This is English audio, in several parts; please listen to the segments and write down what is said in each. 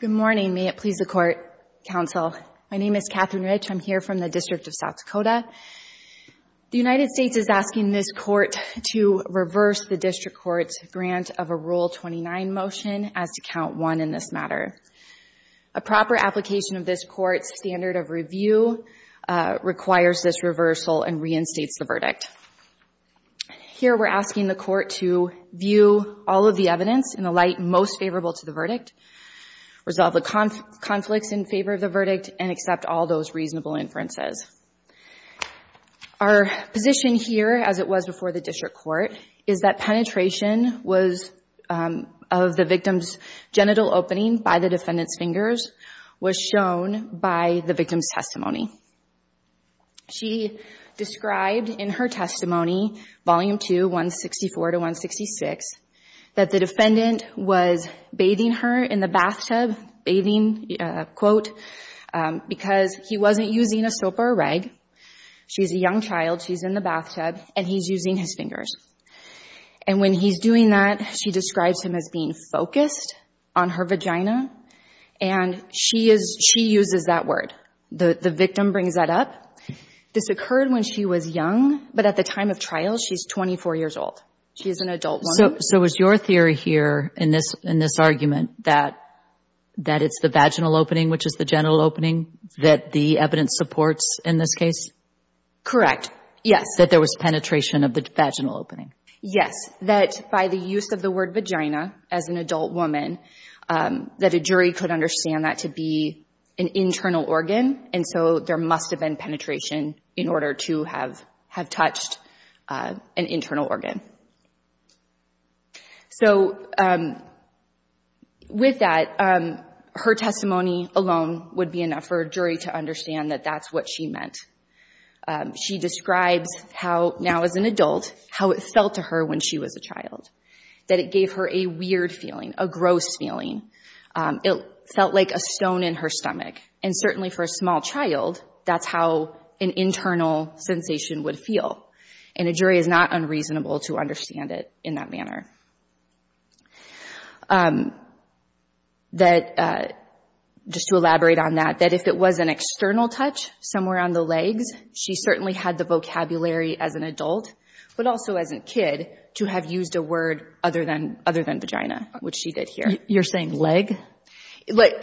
Good morning. May it please the Court, Counsel. My name is Katherine Rich. I'm here from the District of South Dakota. The United States is asking this Court to reverse the District Court's grant of a Rule 29 motion as to Count 1 in this matter. A proper application of this Court's standard of review requires this reversal and reinstates the verdict. Here we're asking the Court to view all of the evidence in the light most favorable to the verdict, resolve the conflicts in favor of the verdict, and accept all those reasonable inferences. Our position here, as it was before the District Court, is that penetration of the victim's genital opening by the defendant's fingers was shown by the victim's testimony. She described in her testimony, Volume 2, 164-166, that the defendant was bathing her in the bathtub, bathing, quote, because he wasn't using a soap or a rag. She's a young child. She's in the bathtub, and he's using his fingers. And when he's doing that, she describes him as being focused on her vagina, and she uses that word. The victim brings that up. This occurred when she was young, but at the time of trial, she's 24 years old. She is an adult woman. So is your theory here in this argument that it's the vaginal opening, which is the genital opening, that the evidence supports in this case? Correct. Yes. That there was penetration of the vaginal opening? Yes, that by the use of the word vagina, as an adult woman, that a jury could understand that to be an internal organ, and so there must have been penetration in order to have touched an internal organ. So with that, her testimony alone would be enough for a jury to understand that that's what she meant. She describes how, now as an adult, how it felt to her when she was a child, that it gave her a weird feeling, a gross feeling. It felt like a stone in her stomach. And certainly for a small child, that's how an internal sensation would feel, and a jury is not unreasonable to understand it in that manner. Just to elaborate on that, that if it was an external touch somewhere on the legs, she certainly had the vocabulary as an adult, but also as a kid, to have used a word other than vagina, which she did here. You're saying leg?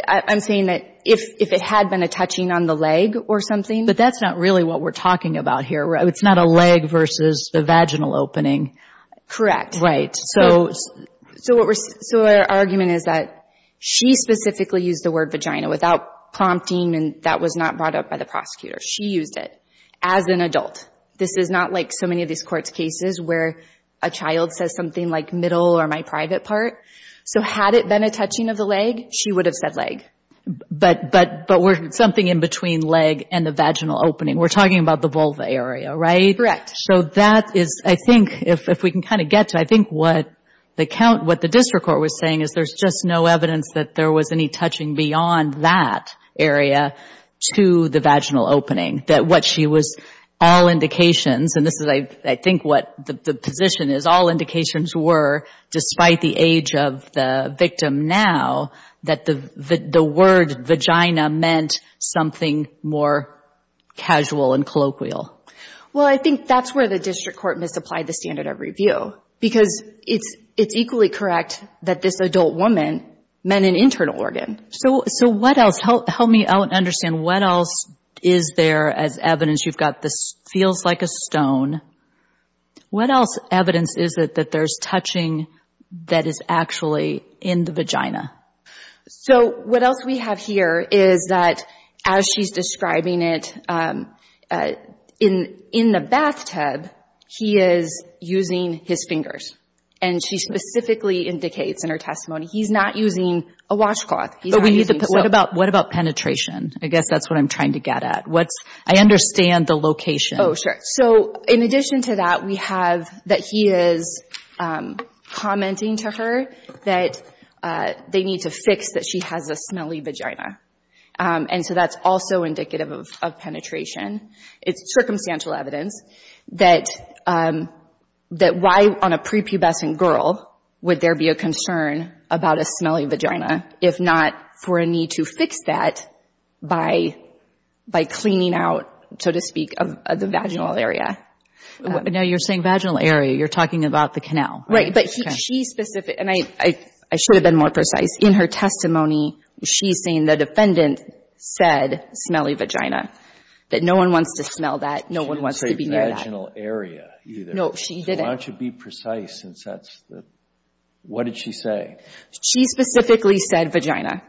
I'm saying that if it had been a touching on the leg or something. But that's not really what we're talking about here, right? It's not a leg versus the vaginal opening. Correct. Right. So our argument is that she specifically used the word vagina without prompting, and that was not brought up by the prosecutor. She used it as an adult. This is not like so many of these courts' cases where a child says something like middle or my private part. So had it been a touching of the leg, she would have said leg. But something in between leg and the vaginal opening. We're talking about the vulva area, right? Correct. So that is, I think, if we can kind of get to, I think what the district court was saying is there's just no evidence that there was any touching beyond that area to the vaginal opening, that what she was all indications, and this is, I think, what the position is, all indications were, despite the age of the victim now, that the word vagina meant something more casual and colloquial. Well, I think that's where the district court misapplied the standard of review because it's equally correct that this adult woman meant an internal organ. So what else? Help me out and understand what else is there as evidence. You've got this feels like a stone. What else evidence is it that there's touching that is actually in the vagina? So what else we have here is that as she's describing it, in the bathtub, he is using his fingers, and she specifically indicates in her testimony he's not using a washcloth. But what about penetration? I guess that's what I'm trying to get at. I understand the location. Oh, sure. So in addition to that, we have that he is commenting to her that they need to fix that she has a smelly vagina, and so that's also indicative of penetration. It's circumstantial evidence that why on a prepubescent girl would there be a concern about a smelly vagina if not for a need to fix that by cleaning out, so to speak, of the vaginal area. Now you're saying vaginal area. You're talking about the canal. Right. But she's specific. And I should have been more precise. In her testimony, she's saying the defendant said smelly vagina, that no one wants to smell that, no one wants to be near that. She didn't say vaginal area either. No, she didn't. So why don't you be precise since that's the — what did she say? She specifically said vagina.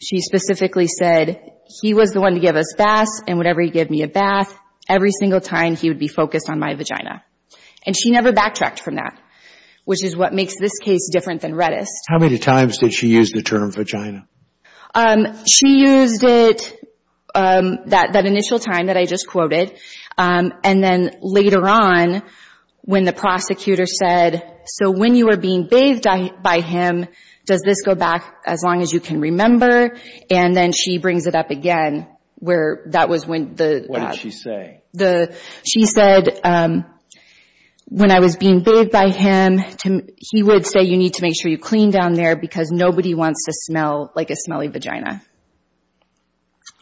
She specifically said he was the one to give us baths, and whenever he gave me a bath, every single time he would be focused on my vagina. And she never backtracked from that, which is what makes this case different than Redist. How many times did she use the term vagina? She used it that initial time that I just quoted, and then later on when the prosecutor said, so when you were being bathed by him, does this go back as long as you can remember? And then she brings it up again where that was when the — What did she say? She said when I was being bathed by him, he would say you need to make sure you clean down there because nobody wants to smell like a smelly vagina.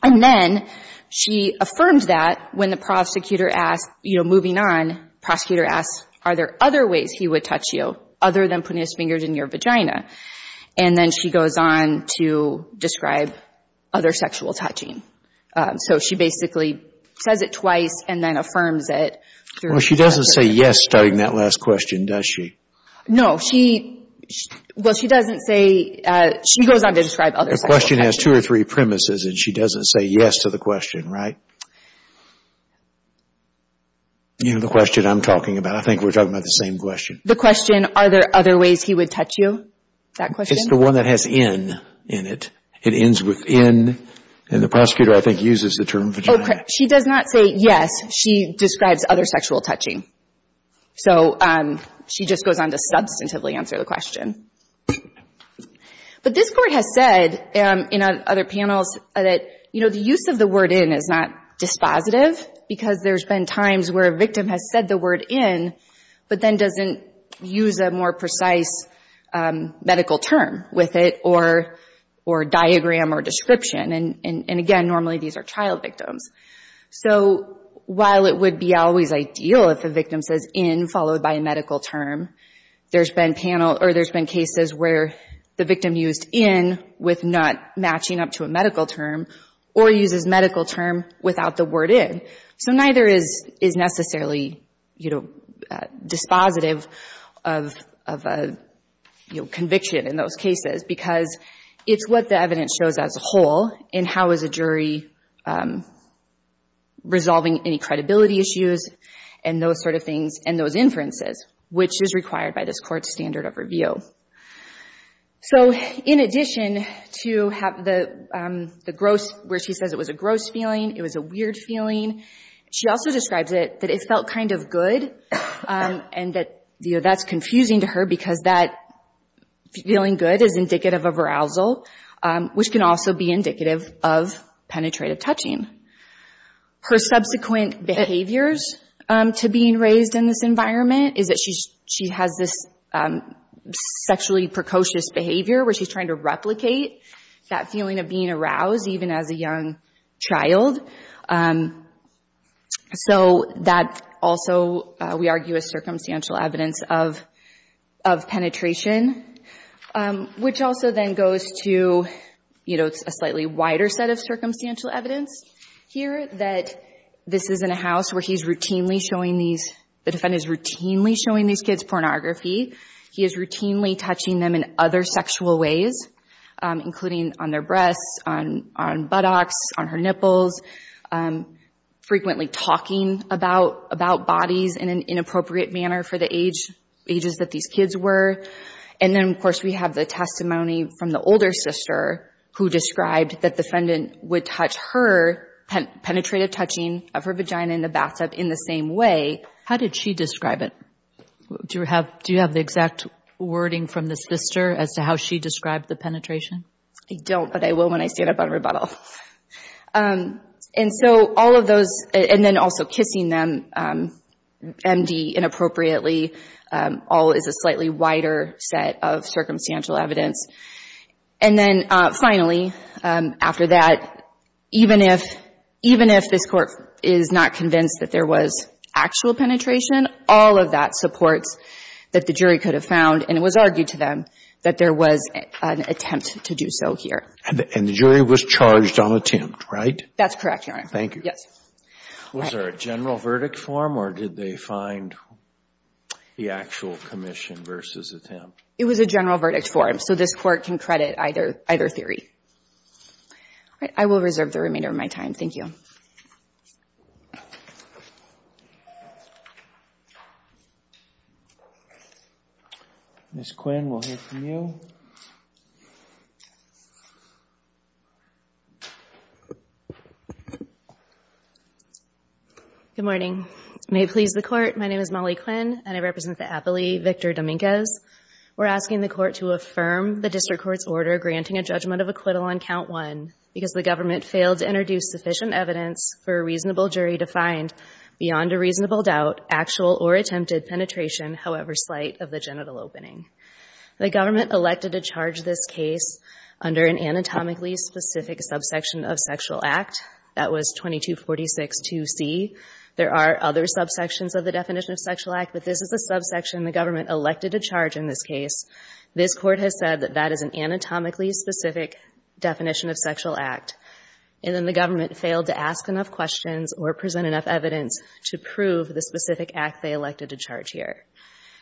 And then she affirmed that when the prosecutor asked, you know, moving on, prosecutor asked, are there other ways he would touch you other than putting his fingers in your vagina? And then she goes on to describe other sexual touching. So she basically says it twice and then affirms it. Well, she doesn't say yes starting that last question, does she? No, she — well, she doesn't say — she goes on to describe other sexual touching. The question has two or three premises, and she doesn't say yes to the question, right? You know, the question I'm talking about. I think we're talking about the same question. The question, are there other ways he would touch you, that question? It's the one that has in in it. It ends with in, and the prosecutor, I think, uses the term vagina. She does not say yes. She describes other sexual touching. So she just goes on to substantively answer the question. But this court has said in other panels that, you know, the use of the word in is not dispositive because there's been times where a victim has said the word in, but then doesn't use a more precise medical term with it or diagram or description. And, again, normally these are child victims. So while it would be always ideal if a victim says in followed by a medical term, there's been cases where the victim used in with not matching up to a medical term or uses medical term without the word in. So neither is necessarily, you know, dispositive of conviction in those cases because it's what the evidence shows as a whole in how is a jury resolving any credibility issues and those sort of things and those inferences, which is required by this court's standard of review. So in addition to the gross, where she says it was a gross feeling, it was a weird feeling, she also describes it that it felt kind of good and that, you know, that's confusing to her because that feeling good is indicative of arousal, which can also be indicative of penetrative touching. Her subsequent behaviors to being raised in this environment is that she has this sexually precocious behavior where she's trying to replicate that feeling of being aroused even as a young child. So that also, we argue, is circumstantial evidence of penetration, which also then goes to, you know, a slightly wider set of circumstantial evidence here that this is in a house where the defendant is routinely showing these kids pornography. He is routinely touching them in other sexual ways, including on their breasts, on buttocks, on her nipples, frequently talking about bodies in an inappropriate manner for the ages that these kids were. And then, of course, we have the testimony from the older sister who described that the defendant would touch her penetrative touching of her vagina in the bathtub in the same way. How did she describe it? Do you have the exact wording from this sister as to how she described the penetration? I don't, but I will when I stand up on rebuttal. And so all of those, and then also kissing them, MD, inappropriately, all is a slightly wider set of circumstantial evidence. And then, finally, after that, even if this court is not convinced that there was actual penetration, all of that supports that the jury could have found, and it was argued to them, that there was an attempt to do so here. And the jury was charged on attempt, right? That's correct, Your Honor. Thank you. Yes. Was there a general verdict form, or did they find the actual commission versus attempt? It was a general verdict form, so this court can credit either theory. All right. I will reserve the remainder of my time. Thank you. Ms. Quinn, we'll hear from you. Good morning. May it please the Court. My name is Molly Quinn, and I represent the appellee, Victor Dominguez. We're asking the Court to affirm the district court's order granting a judgment of acquittal on Count 1 because the government failed to introduce sufficient evidence for a reasonable jury to find, beyond a reasonable doubt, actual or attempted penetration, however slight, of the genital opening. The government elected to charge this case under an anatomically specific subsection of sexual act. That was 2246.2c. There are other subsections of the definition of sexual act, but this is the subsection the government elected to charge in this case. This Court has said that that is an anatomically specific definition of sexual act, and then the government failed to ask enough questions or present enough evidence to prove the specific act they elected to charge here.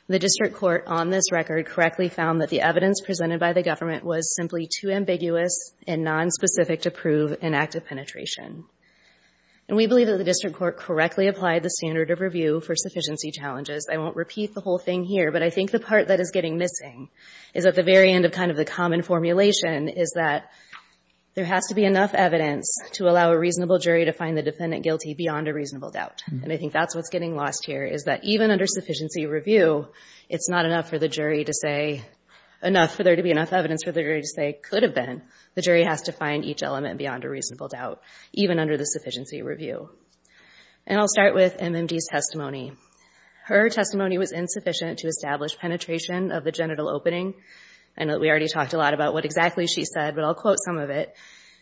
The district court on this record correctly found that the evidence presented by the government was simply too ambiguous and nonspecific to prove an act of penetration. And we believe that the district court correctly applied the standard of review for sufficiency challenges. I won't repeat the whole thing here, but I think the part that is getting missing is at the very end of kind of the common formulation is that there has to be enough evidence to allow a reasonable jury to find the defendant guilty beyond a reasonable doubt. And I think that's what's getting lost here is that even under sufficiency review, it's not enough for the jury to say enough, for there to be enough evidence for the jury to say it could have been. The jury has to find each element beyond a reasonable doubt, even under the sufficiency review. And I'll start with MMD's testimony. Her testimony was insufficient to establish penetration of the genital opening. I know that we already talked a lot about what exactly she said, but I'll quote some of it.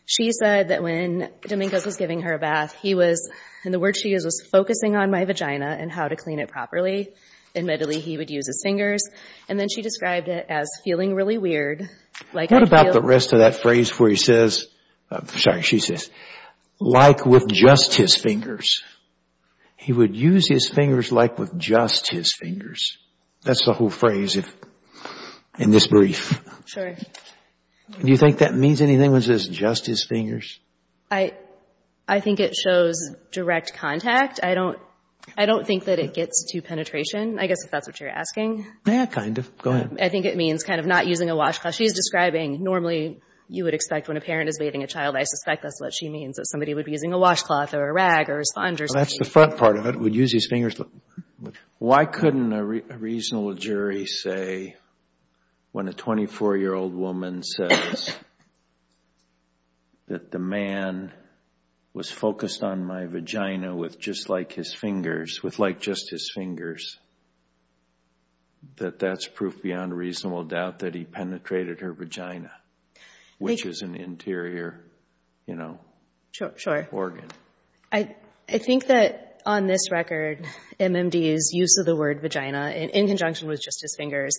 She said that when Dominguez was giving her a bath, he was, and the word she used was, focusing on my vagina and how to clean it properly. Admittedly, he would use his fingers. And then she described it as feeling really weird. What about the rest of that phrase where he says, I'm sorry, she says, like with just his fingers. He would use his fingers like with just his fingers. That's the whole phrase in this brief. Do you think that means anything when it says just his fingers? I think it shows direct contact. I don't think that it gets to penetration, I guess if that's what you're asking. Yeah, kind of. Go ahead. I think it means kind of not using a washcloth. While she's describing, normally you would expect when a parent is bathing a child, I suspect that's what she means, that somebody would be using a washcloth or a rag or a sponge. That's the front part of it, would use his fingers. Why couldn't a reasonable jury say when a 24-year-old woman says that the man was focused on my vagina with just like his fingers, with like just his fingers, that that's proof beyond a reasonable doubt that he penetrated her vagina, which is an interior, you know, organ. I think that on this record, MMD's use of the word vagina in conjunction with just his fingers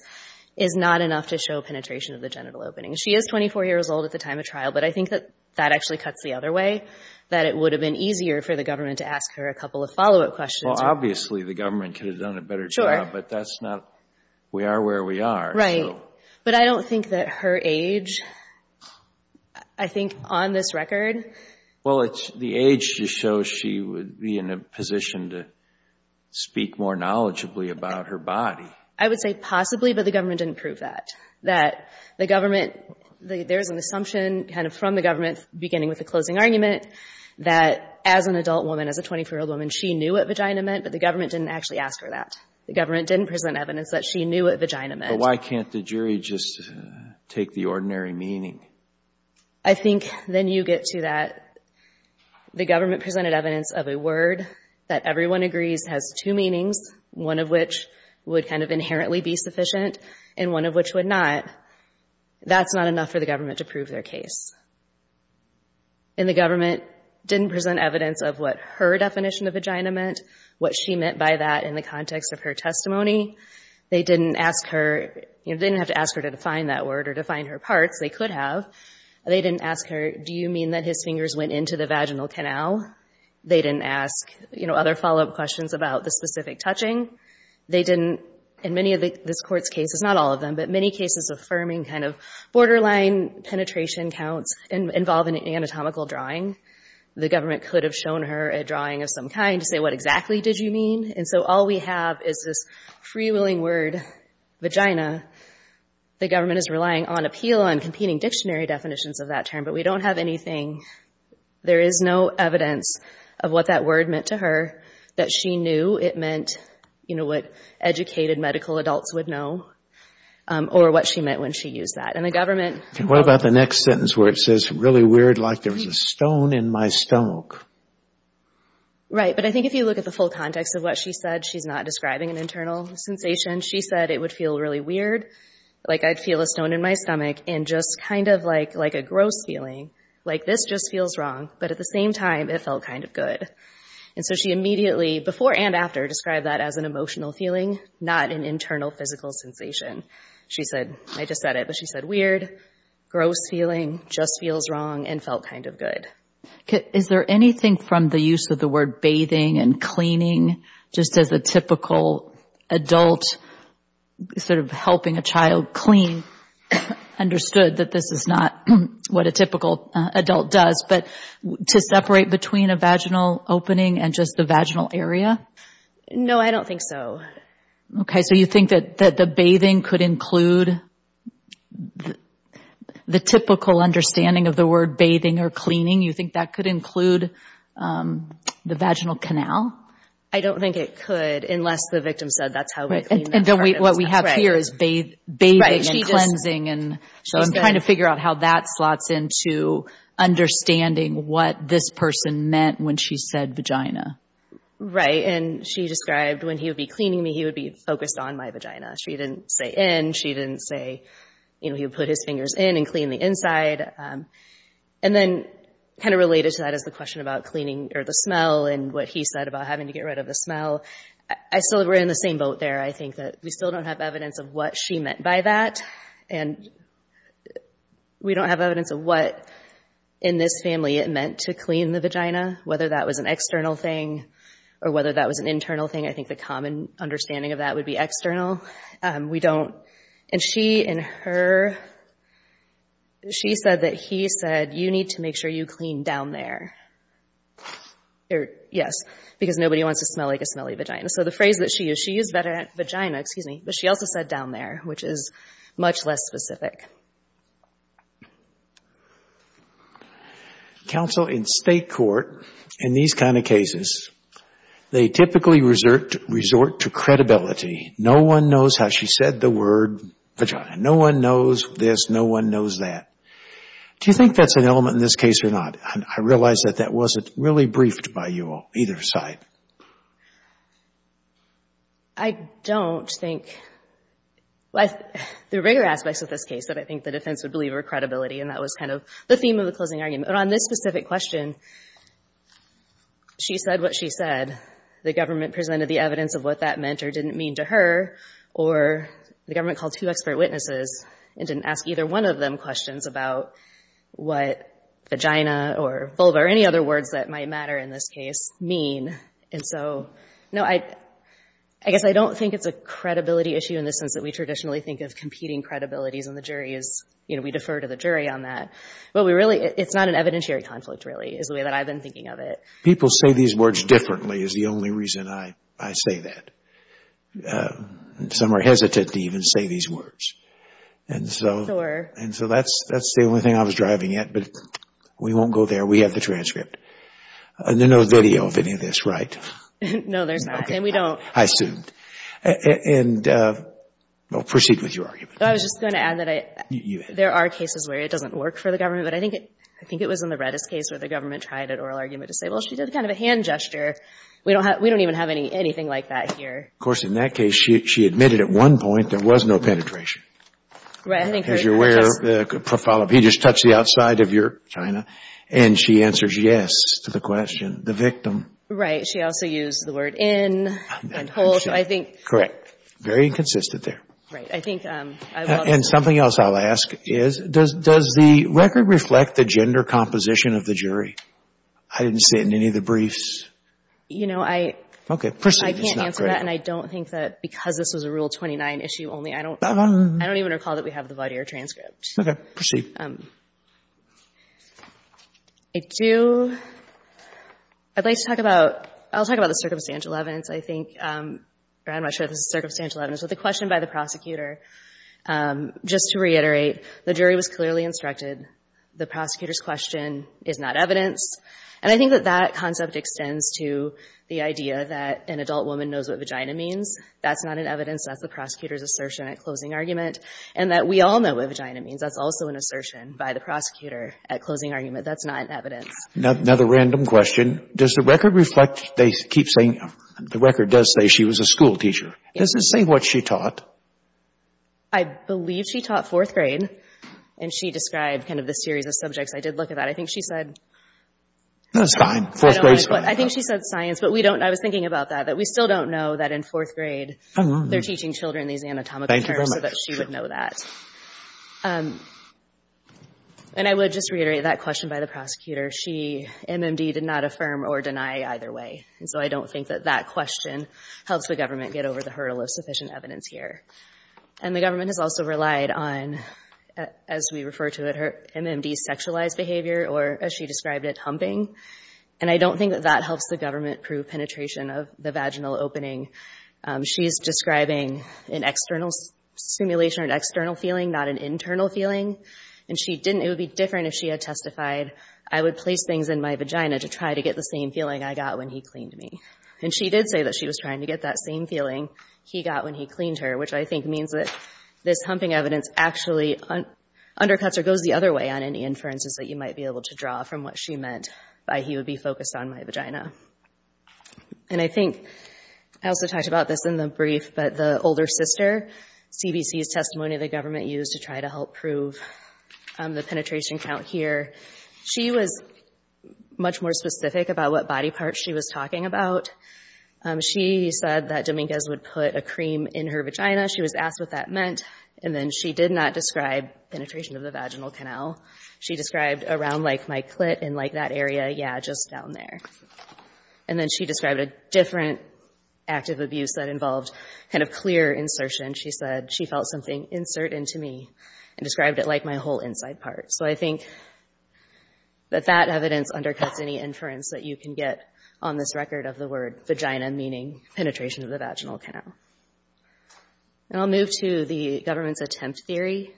is not enough to show penetration of the genital opening. She is 24 years old at the time of trial, but I think that that actually cuts the other way, that it would have been easier for the government to ask her a couple of follow-up questions. Well, obviously the government could have done a better job. But that's not, we are where we are. Right. But I don't think that her age, I think on this record. Well, the age just shows she would be in a position to speak more knowledgeably about her body. I would say possibly, but the government didn't prove that. That the government, there's an assumption kind of from the government beginning with the closing argument that as an adult woman, as a 24-year-old woman, she knew what vagina meant, but the government didn't actually ask her that. The government didn't present evidence that she knew what vagina meant. But why can't the jury just take the ordinary meaning? I think then you get to that. The government presented evidence of a word that everyone agrees has two meanings, one of which would kind of inherently be sufficient and one of which would not. That's not enough for the government to prove their case. And the government didn't present evidence of what her definition of vagina meant, what she meant by that in the context of her testimony. They didn't ask her, they didn't have to ask her to define that word or define her parts. They could have. They didn't ask her, do you mean that his fingers went into the vaginal canal? They didn't ask other follow-up questions about the specific touching. They didn't, in many of this court's cases, not all of them, but many cases affirming kind of borderline penetration counts involve an anatomical drawing. The government could have shown her a drawing of some kind to say, what exactly did you mean? And so all we have is this free-willing word, vagina. The government is relying on appeal and competing dictionary definitions of that term, but we don't have anything. There is no evidence of what that word meant to her, that she knew it meant, you know, what educated medical adults would know. Or what she meant when she used that. And the government... And what about the next sentence where it says, really weird like there was a stone in my stomach? Right. But I think if you look at the full context of what she said, she's not describing an internal sensation. She said it would feel really weird, like I'd feel a stone in my stomach, and just kind of like a gross feeling, like this just feels wrong, but at the same time it felt kind of good. And so she immediately, before and after, described that as an emotional feeling, not an internal physical sensation. She said, I just said it, but she said weird, gross feeling, just feels wrong, and felt kind of good. Is there anything from the use of the word bathing and cleaning, just as a typical adult sort of helping a child clean, understood that this is not what a typical adult does, but to separate between a vaginal opening and just the vaginal area? No, I don't think so. Okay, so you think that the bathing could include the typical understanding of the word bathing or cleaning? You think that could include the vaginal canal? I don't think it could, unless the victim said that's how we clean that part. And what we have here is bathing and cleansing, and so I'm trying to figure out how that slots into understanding what this person meant when she said vagina. Right, and she described when he would be cleaning me, he would be focused on my vagina. She didn't say in, she didn't say, you know, he would put his fingers in and clean the inside. And then kind of related to that is the question about cleaning or the smell and what he said about having to get rid of the smell. I still were in the same boat there. I think that we still don't have evidence of what she meant by that, and we don't have evidence of what in this family it meant to clean the vagina, whether that was an external thing or whether that was an internal thing. I think the common understanding of that would be external. We don't, and she and her, she said that he said, you need to make sure you clean down there. Yes, because nobody wants to smell like a smelly vagina. So the phrase that she used, she used vagina, excuse me, but she also said down there, which is much less specific. Counsel, in state court, in these kind of cases, they typically resort to credibility. No one knows how she said the word vagina. No one knows this. No one knows that. Do you think that's an element in this case or not? I realize that that wasn't really briefed by you on either side. I don't think. The bigger aspects of this case that I think the defense would believe are credibility, and that was kind of the theme of the closing argument. But on this specific question, she said what she said. The government presented the evidence of what that meant or didn't mean to her, or the government called two expert witnesses and didn't ask either one of them questions about what vagina or vulva or any other words that might matter in this case mean. And so, no, I guess I don't think it's a credibility issue in the sense that we traditionally think of competing credibilities, and the jury is, you know, we defer to the jury on that. But we really, it's not an evidentiary conflict, really, is the way that I've been thinking of it. People say these words differently is the only reason I say that. Some are hesitant to even say these words. And so that's the only thing I was driving at. But we won't go there. We have the transcript. There's no video of any of this, right? No, there's not, and we don't. I assumed. And proceed with your argument. I was just going to add that there are cases where it doesn't work for the government, but I think it was in the Redis case where the government tried an oral argument to say, well, she did kind of a hand gesture. We don't even have anything like that here. Of course, in that case, she admitted at one point there was no penetration. Right. As you're aware, he just touched the outside of your vagina, and she answers yes to the question, the victim. Right. She also used the word in and hold, so I think. Correct. Very consistent there. Right. I think. And something else I'll ask is, does the record reflect the gender composition of the jury? I didn't see it in any of the briefs. You know, I. Okay. Proceed. I can't answer that, and I don't think that because this was a Rule 29 issue only, I don't even recall that we have the Vaudeir transcript. Okay. Proceed. I do. I'd like to talk about. I'll talk about the circumstantial evidence. I think. Or I'm not sure if this is circumstantial evidence. But the question by the prosecutor, just to reiterate, the jury was clearly instructed. The prosecutor's question is not evidence. And I think that that concept extends to the idea that an adult woman knows what vagina means. That's not an evidence. That's the prosecutor's assertion at closing argument. And that we all know what vagina means. That's also an assertion by the prosecutor at closing argument. That's not evidence. Another random question. Does the record reflect. They keep saying. The record does say she was a school teacher. Does it say what she taught? I believe she taught fourth grade. And she described kind of the series of subjects. I did look at that. I think she said. That's fine. Fourth grade is fine. I think she said science. But we don't. I was thinking about that. That we still don't know that in fourth grade. I know. They're teaching children these anatomical terms. Thank you very much. So that she would know that. And I would just reiterate that question by the prosecutor. She, MMD, did not affirm or deny either way. And so I don't think that that question helps the government get over the hurdle of sufficient evidence here. And the government has also relied on, as we refer to it, MMD's sexualized behavior. Or as she described it, humping. And I don't think that that helps the government prove penetration of the vaginal opening. She's describing an external simulation or an external feeling, not an internal feeling. And she didn't. It would be different if she had testified. I would place things in my vagina to try to get the same feeling I got when he cleaned me. And she did say that she was trying to get that same feeling he got when he cleaned her. Which I think means that this humping evidence actually undercuts or goes the other way on any inferences that you might be able to draw from what she meant. By he would be focused on my vagina. And I think I also talked about this in the brief. But the older sister, CBC's testimony the government used to try to help prove the penetration count here. She was much more specific about what body parts she was talking about. She said that Dominguez would put a cream in her vagina. She was asked what that meant. And then she did not describe penetration of the vaginal canal. She described around like my clit and like that area. Yeah, just down there. And then she described a different act of abuse that involved kind of clear insertion. She said she felt something insert into me and described it like my whole inside part. So I think that that evidence undercuts any inference that you can get on this record of the word vagina, meaning penetration of the vaginal canal. And I'll move to the government's attempt theory.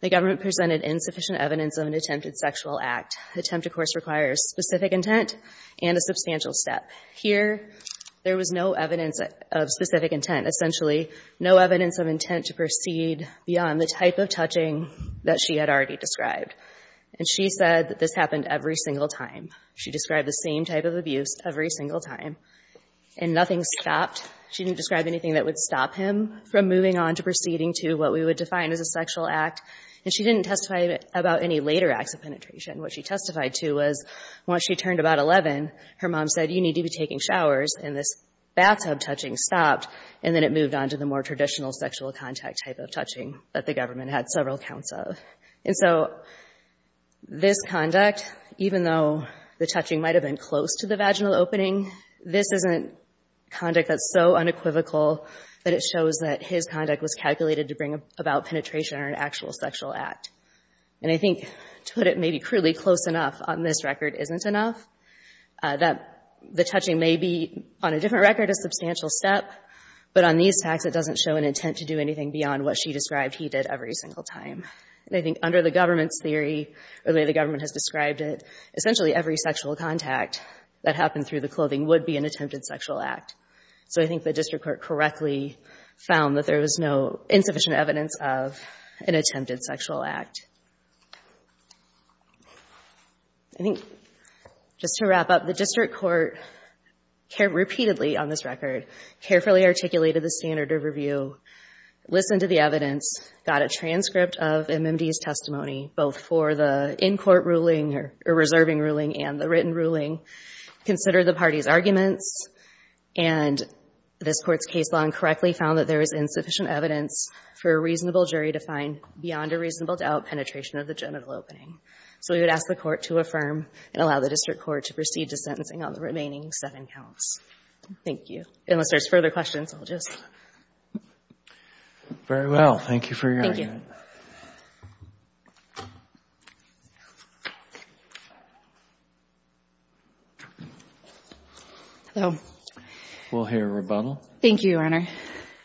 The government presented insufficient evidence of an attempted sexual act. Attempt, of course, requires specific intent and a substantial step. Here there was no evidence of specific intent, essentially no evidence of intent to proceed beyond the type of touching that she had already described. And she said that this happened every single time. She described the same type of abuse every single time. And nothing stopped. She didn't describe anything that would stop him from moving on to proceeding to what we would define as a sexual act. And she didn't testify about any later acts of penetration. What she testified to was once she turned about 11, her mom said, you need to be taking showers, and this bathtub touching stopped, and then it moved on to the more traditional sexual contact type of touching that the government had several counts of. And so this conduct, even though the touching might have been close to the vaginal opening, this is a conduct that's so unequivocal that it shows that his conduct was calculated to bring about penetration or an actual sexual act. And I think to put it maybe crudely, close enough on this record isn't enough, that the touching may be on a different record a substantial step, but on these facts it doesn't show an intent to do anything beyond what she described he did every single time. And I think under the government's theory, or the way the government has described it, essentially every sexual contact that happened through the clothing would be an attempted sexual act. So I think the district court correctly found that there was no insufficient evidence of an attempted sexual act. I think just to wrap up, the district court repeatedly, on this record, carefully articulated the standard of review, listened to the evidence, got a transcript of MMD's testimony, both for the in-court ruling or reserving ruling and the written ruling, considered the party's arguments, and this court's case law incorrectly found that there was insufficient evidence for a reasonable jury to find, beyond a reasonable doubt, penetration of the genital opening. So we would ask the court to affirm and allow the district court to proceed to sentencing on the remaining seven counts. Thank you. Unless there's further questions, I'll just... Very well. Thank you for your argument. Thank you. Hello. We'll hear rebuttal. Thank you, Your Honor.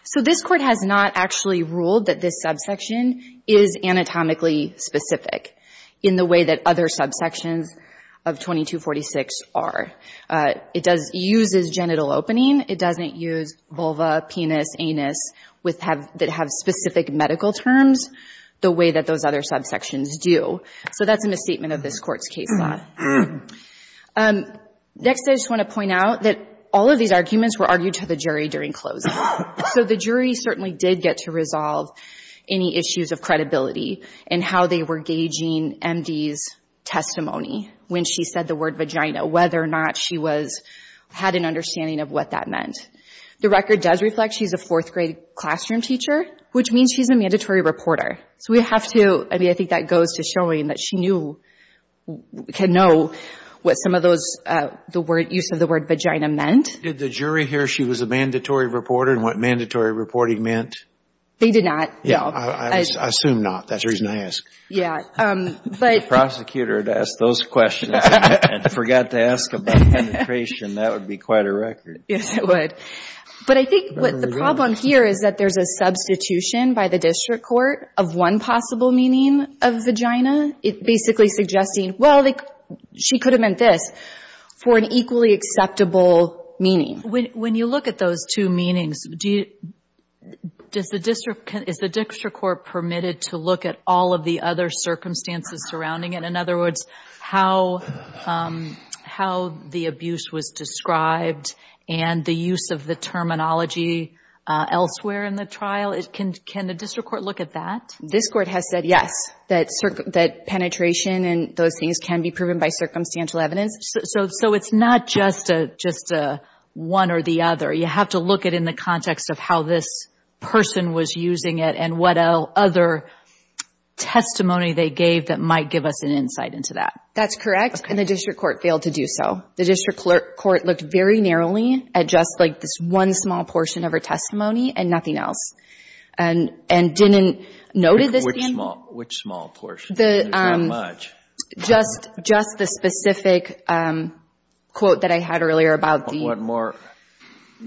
So this Court has not actually ruled that this subsection is anatomically specific in the way that other subsections of 2246 are. It uses genital opening. It doesn't use vulva, penis, anus, that have specific medical terms, the way that those other subsections do. So that's a misstatement of this Court's case law. Next, I just want to point out that all of these arguments were argued to the jury during closing. So the jury certainly did get to resolve any issues of credibility in how they were gauging M.D.'s testimony when she said the word vagina, whether or not she had an understanding of what that meant. The record does reflect she's a fourth-grade classroom teacher, which means she's a mandatory reporter. So we have to... I mean, I think that goes to showing that she knew, could know what some of those, the use of the word vagina meant. Did the jury hear she was a mandatory reporter and what mandatory reporting meant? They did not, no. I assume not. That's the reason I ask. Yeah. If the prosecutor had asked those questions and forgot to ask about penetration, that would be quite a record. Yes, it would. But I think the problem here is that there's a substitution by the district court of one possible meaning of vagina, basically suggesting, well, she could have meant this, for an equally acceptable meaning. When you look at those two meanings, is the district court permitted to look at all of the other circumstances surrounding it? In other words, how the abuse was described and the use of the terminology elsewhere in the trial? Can the district court look at that? This court has said yes, that penetration and those things can be proven by circumstantial evidence. So it's not just one or the other. You have to look at it in the context of how this person was using it and what other testimony they gave that might give us an insight into that. That's correct, and the district court failed to do so. The district court looked very narrowly at just this one small portion of her testimony and nothing else and didn't note it. Which small portion? Just the specific quote that I had earlier about the—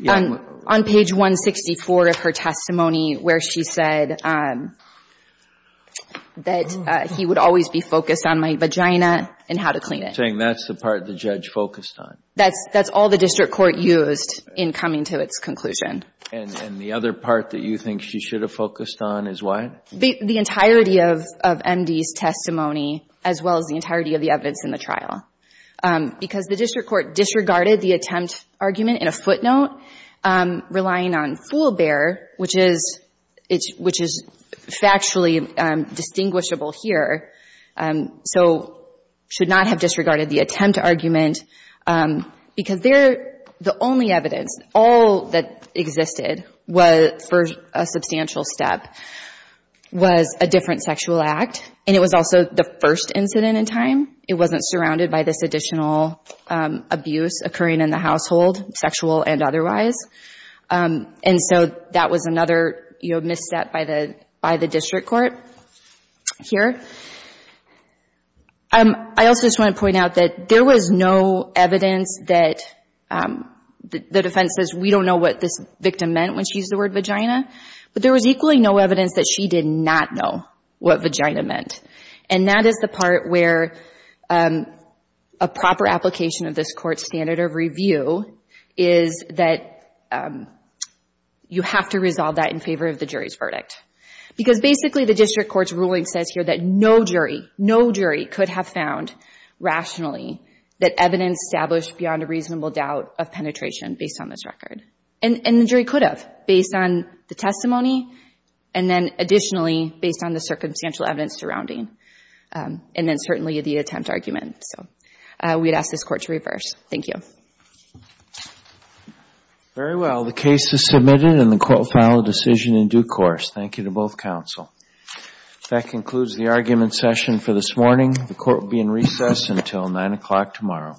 On page 164 of her testimony where she said that he would always be focused on my vagina and how to clean it. Saying that's the part the judge focused on. That's all the district court used in coming to its conclusion. And the other part that you think she should have focused on is what? The entirety of MD's testimony as well as the entirety of the evidence in the trial. Because the district court disregarded the attempt argument in a footnote relying on foolbear, which is factually distinguishable here. So should not have disregarded the attempt argument because the only evidence, all that existed for a substantial step was a different sexual act. And it was also the first incident in time. It wasn't surrounded by this additional abuse occurring in the household, sexual and otherwise. And so that was another misstep by the district court here. I also just want to point out that there was no evidence that— the defense says we don't know what this victim meant when she used the word vagina. But there was equally no evidence that she did not know what vagina meant. And that is the part where a proper application of this court's standard of review is that you have to resolve that in favor of the jury's verdict. Because basically the district court's ruling says here that no jury, no jury could have found rationally that evidence established beyond a reasonable doubt of penetration based on this record. And the jury could have based on the testimony and then additionally based on the circumstantial evidence surrounding and then certainly the attempt argument. So we'd ask this court to reverse. Thank you. Very well. The case is submitted and the court will file a decision in due course. Thank you to both counsel. That concludes the argument session for this morning. The court will be in recess until 9 o'clock tomorrow. Thank you.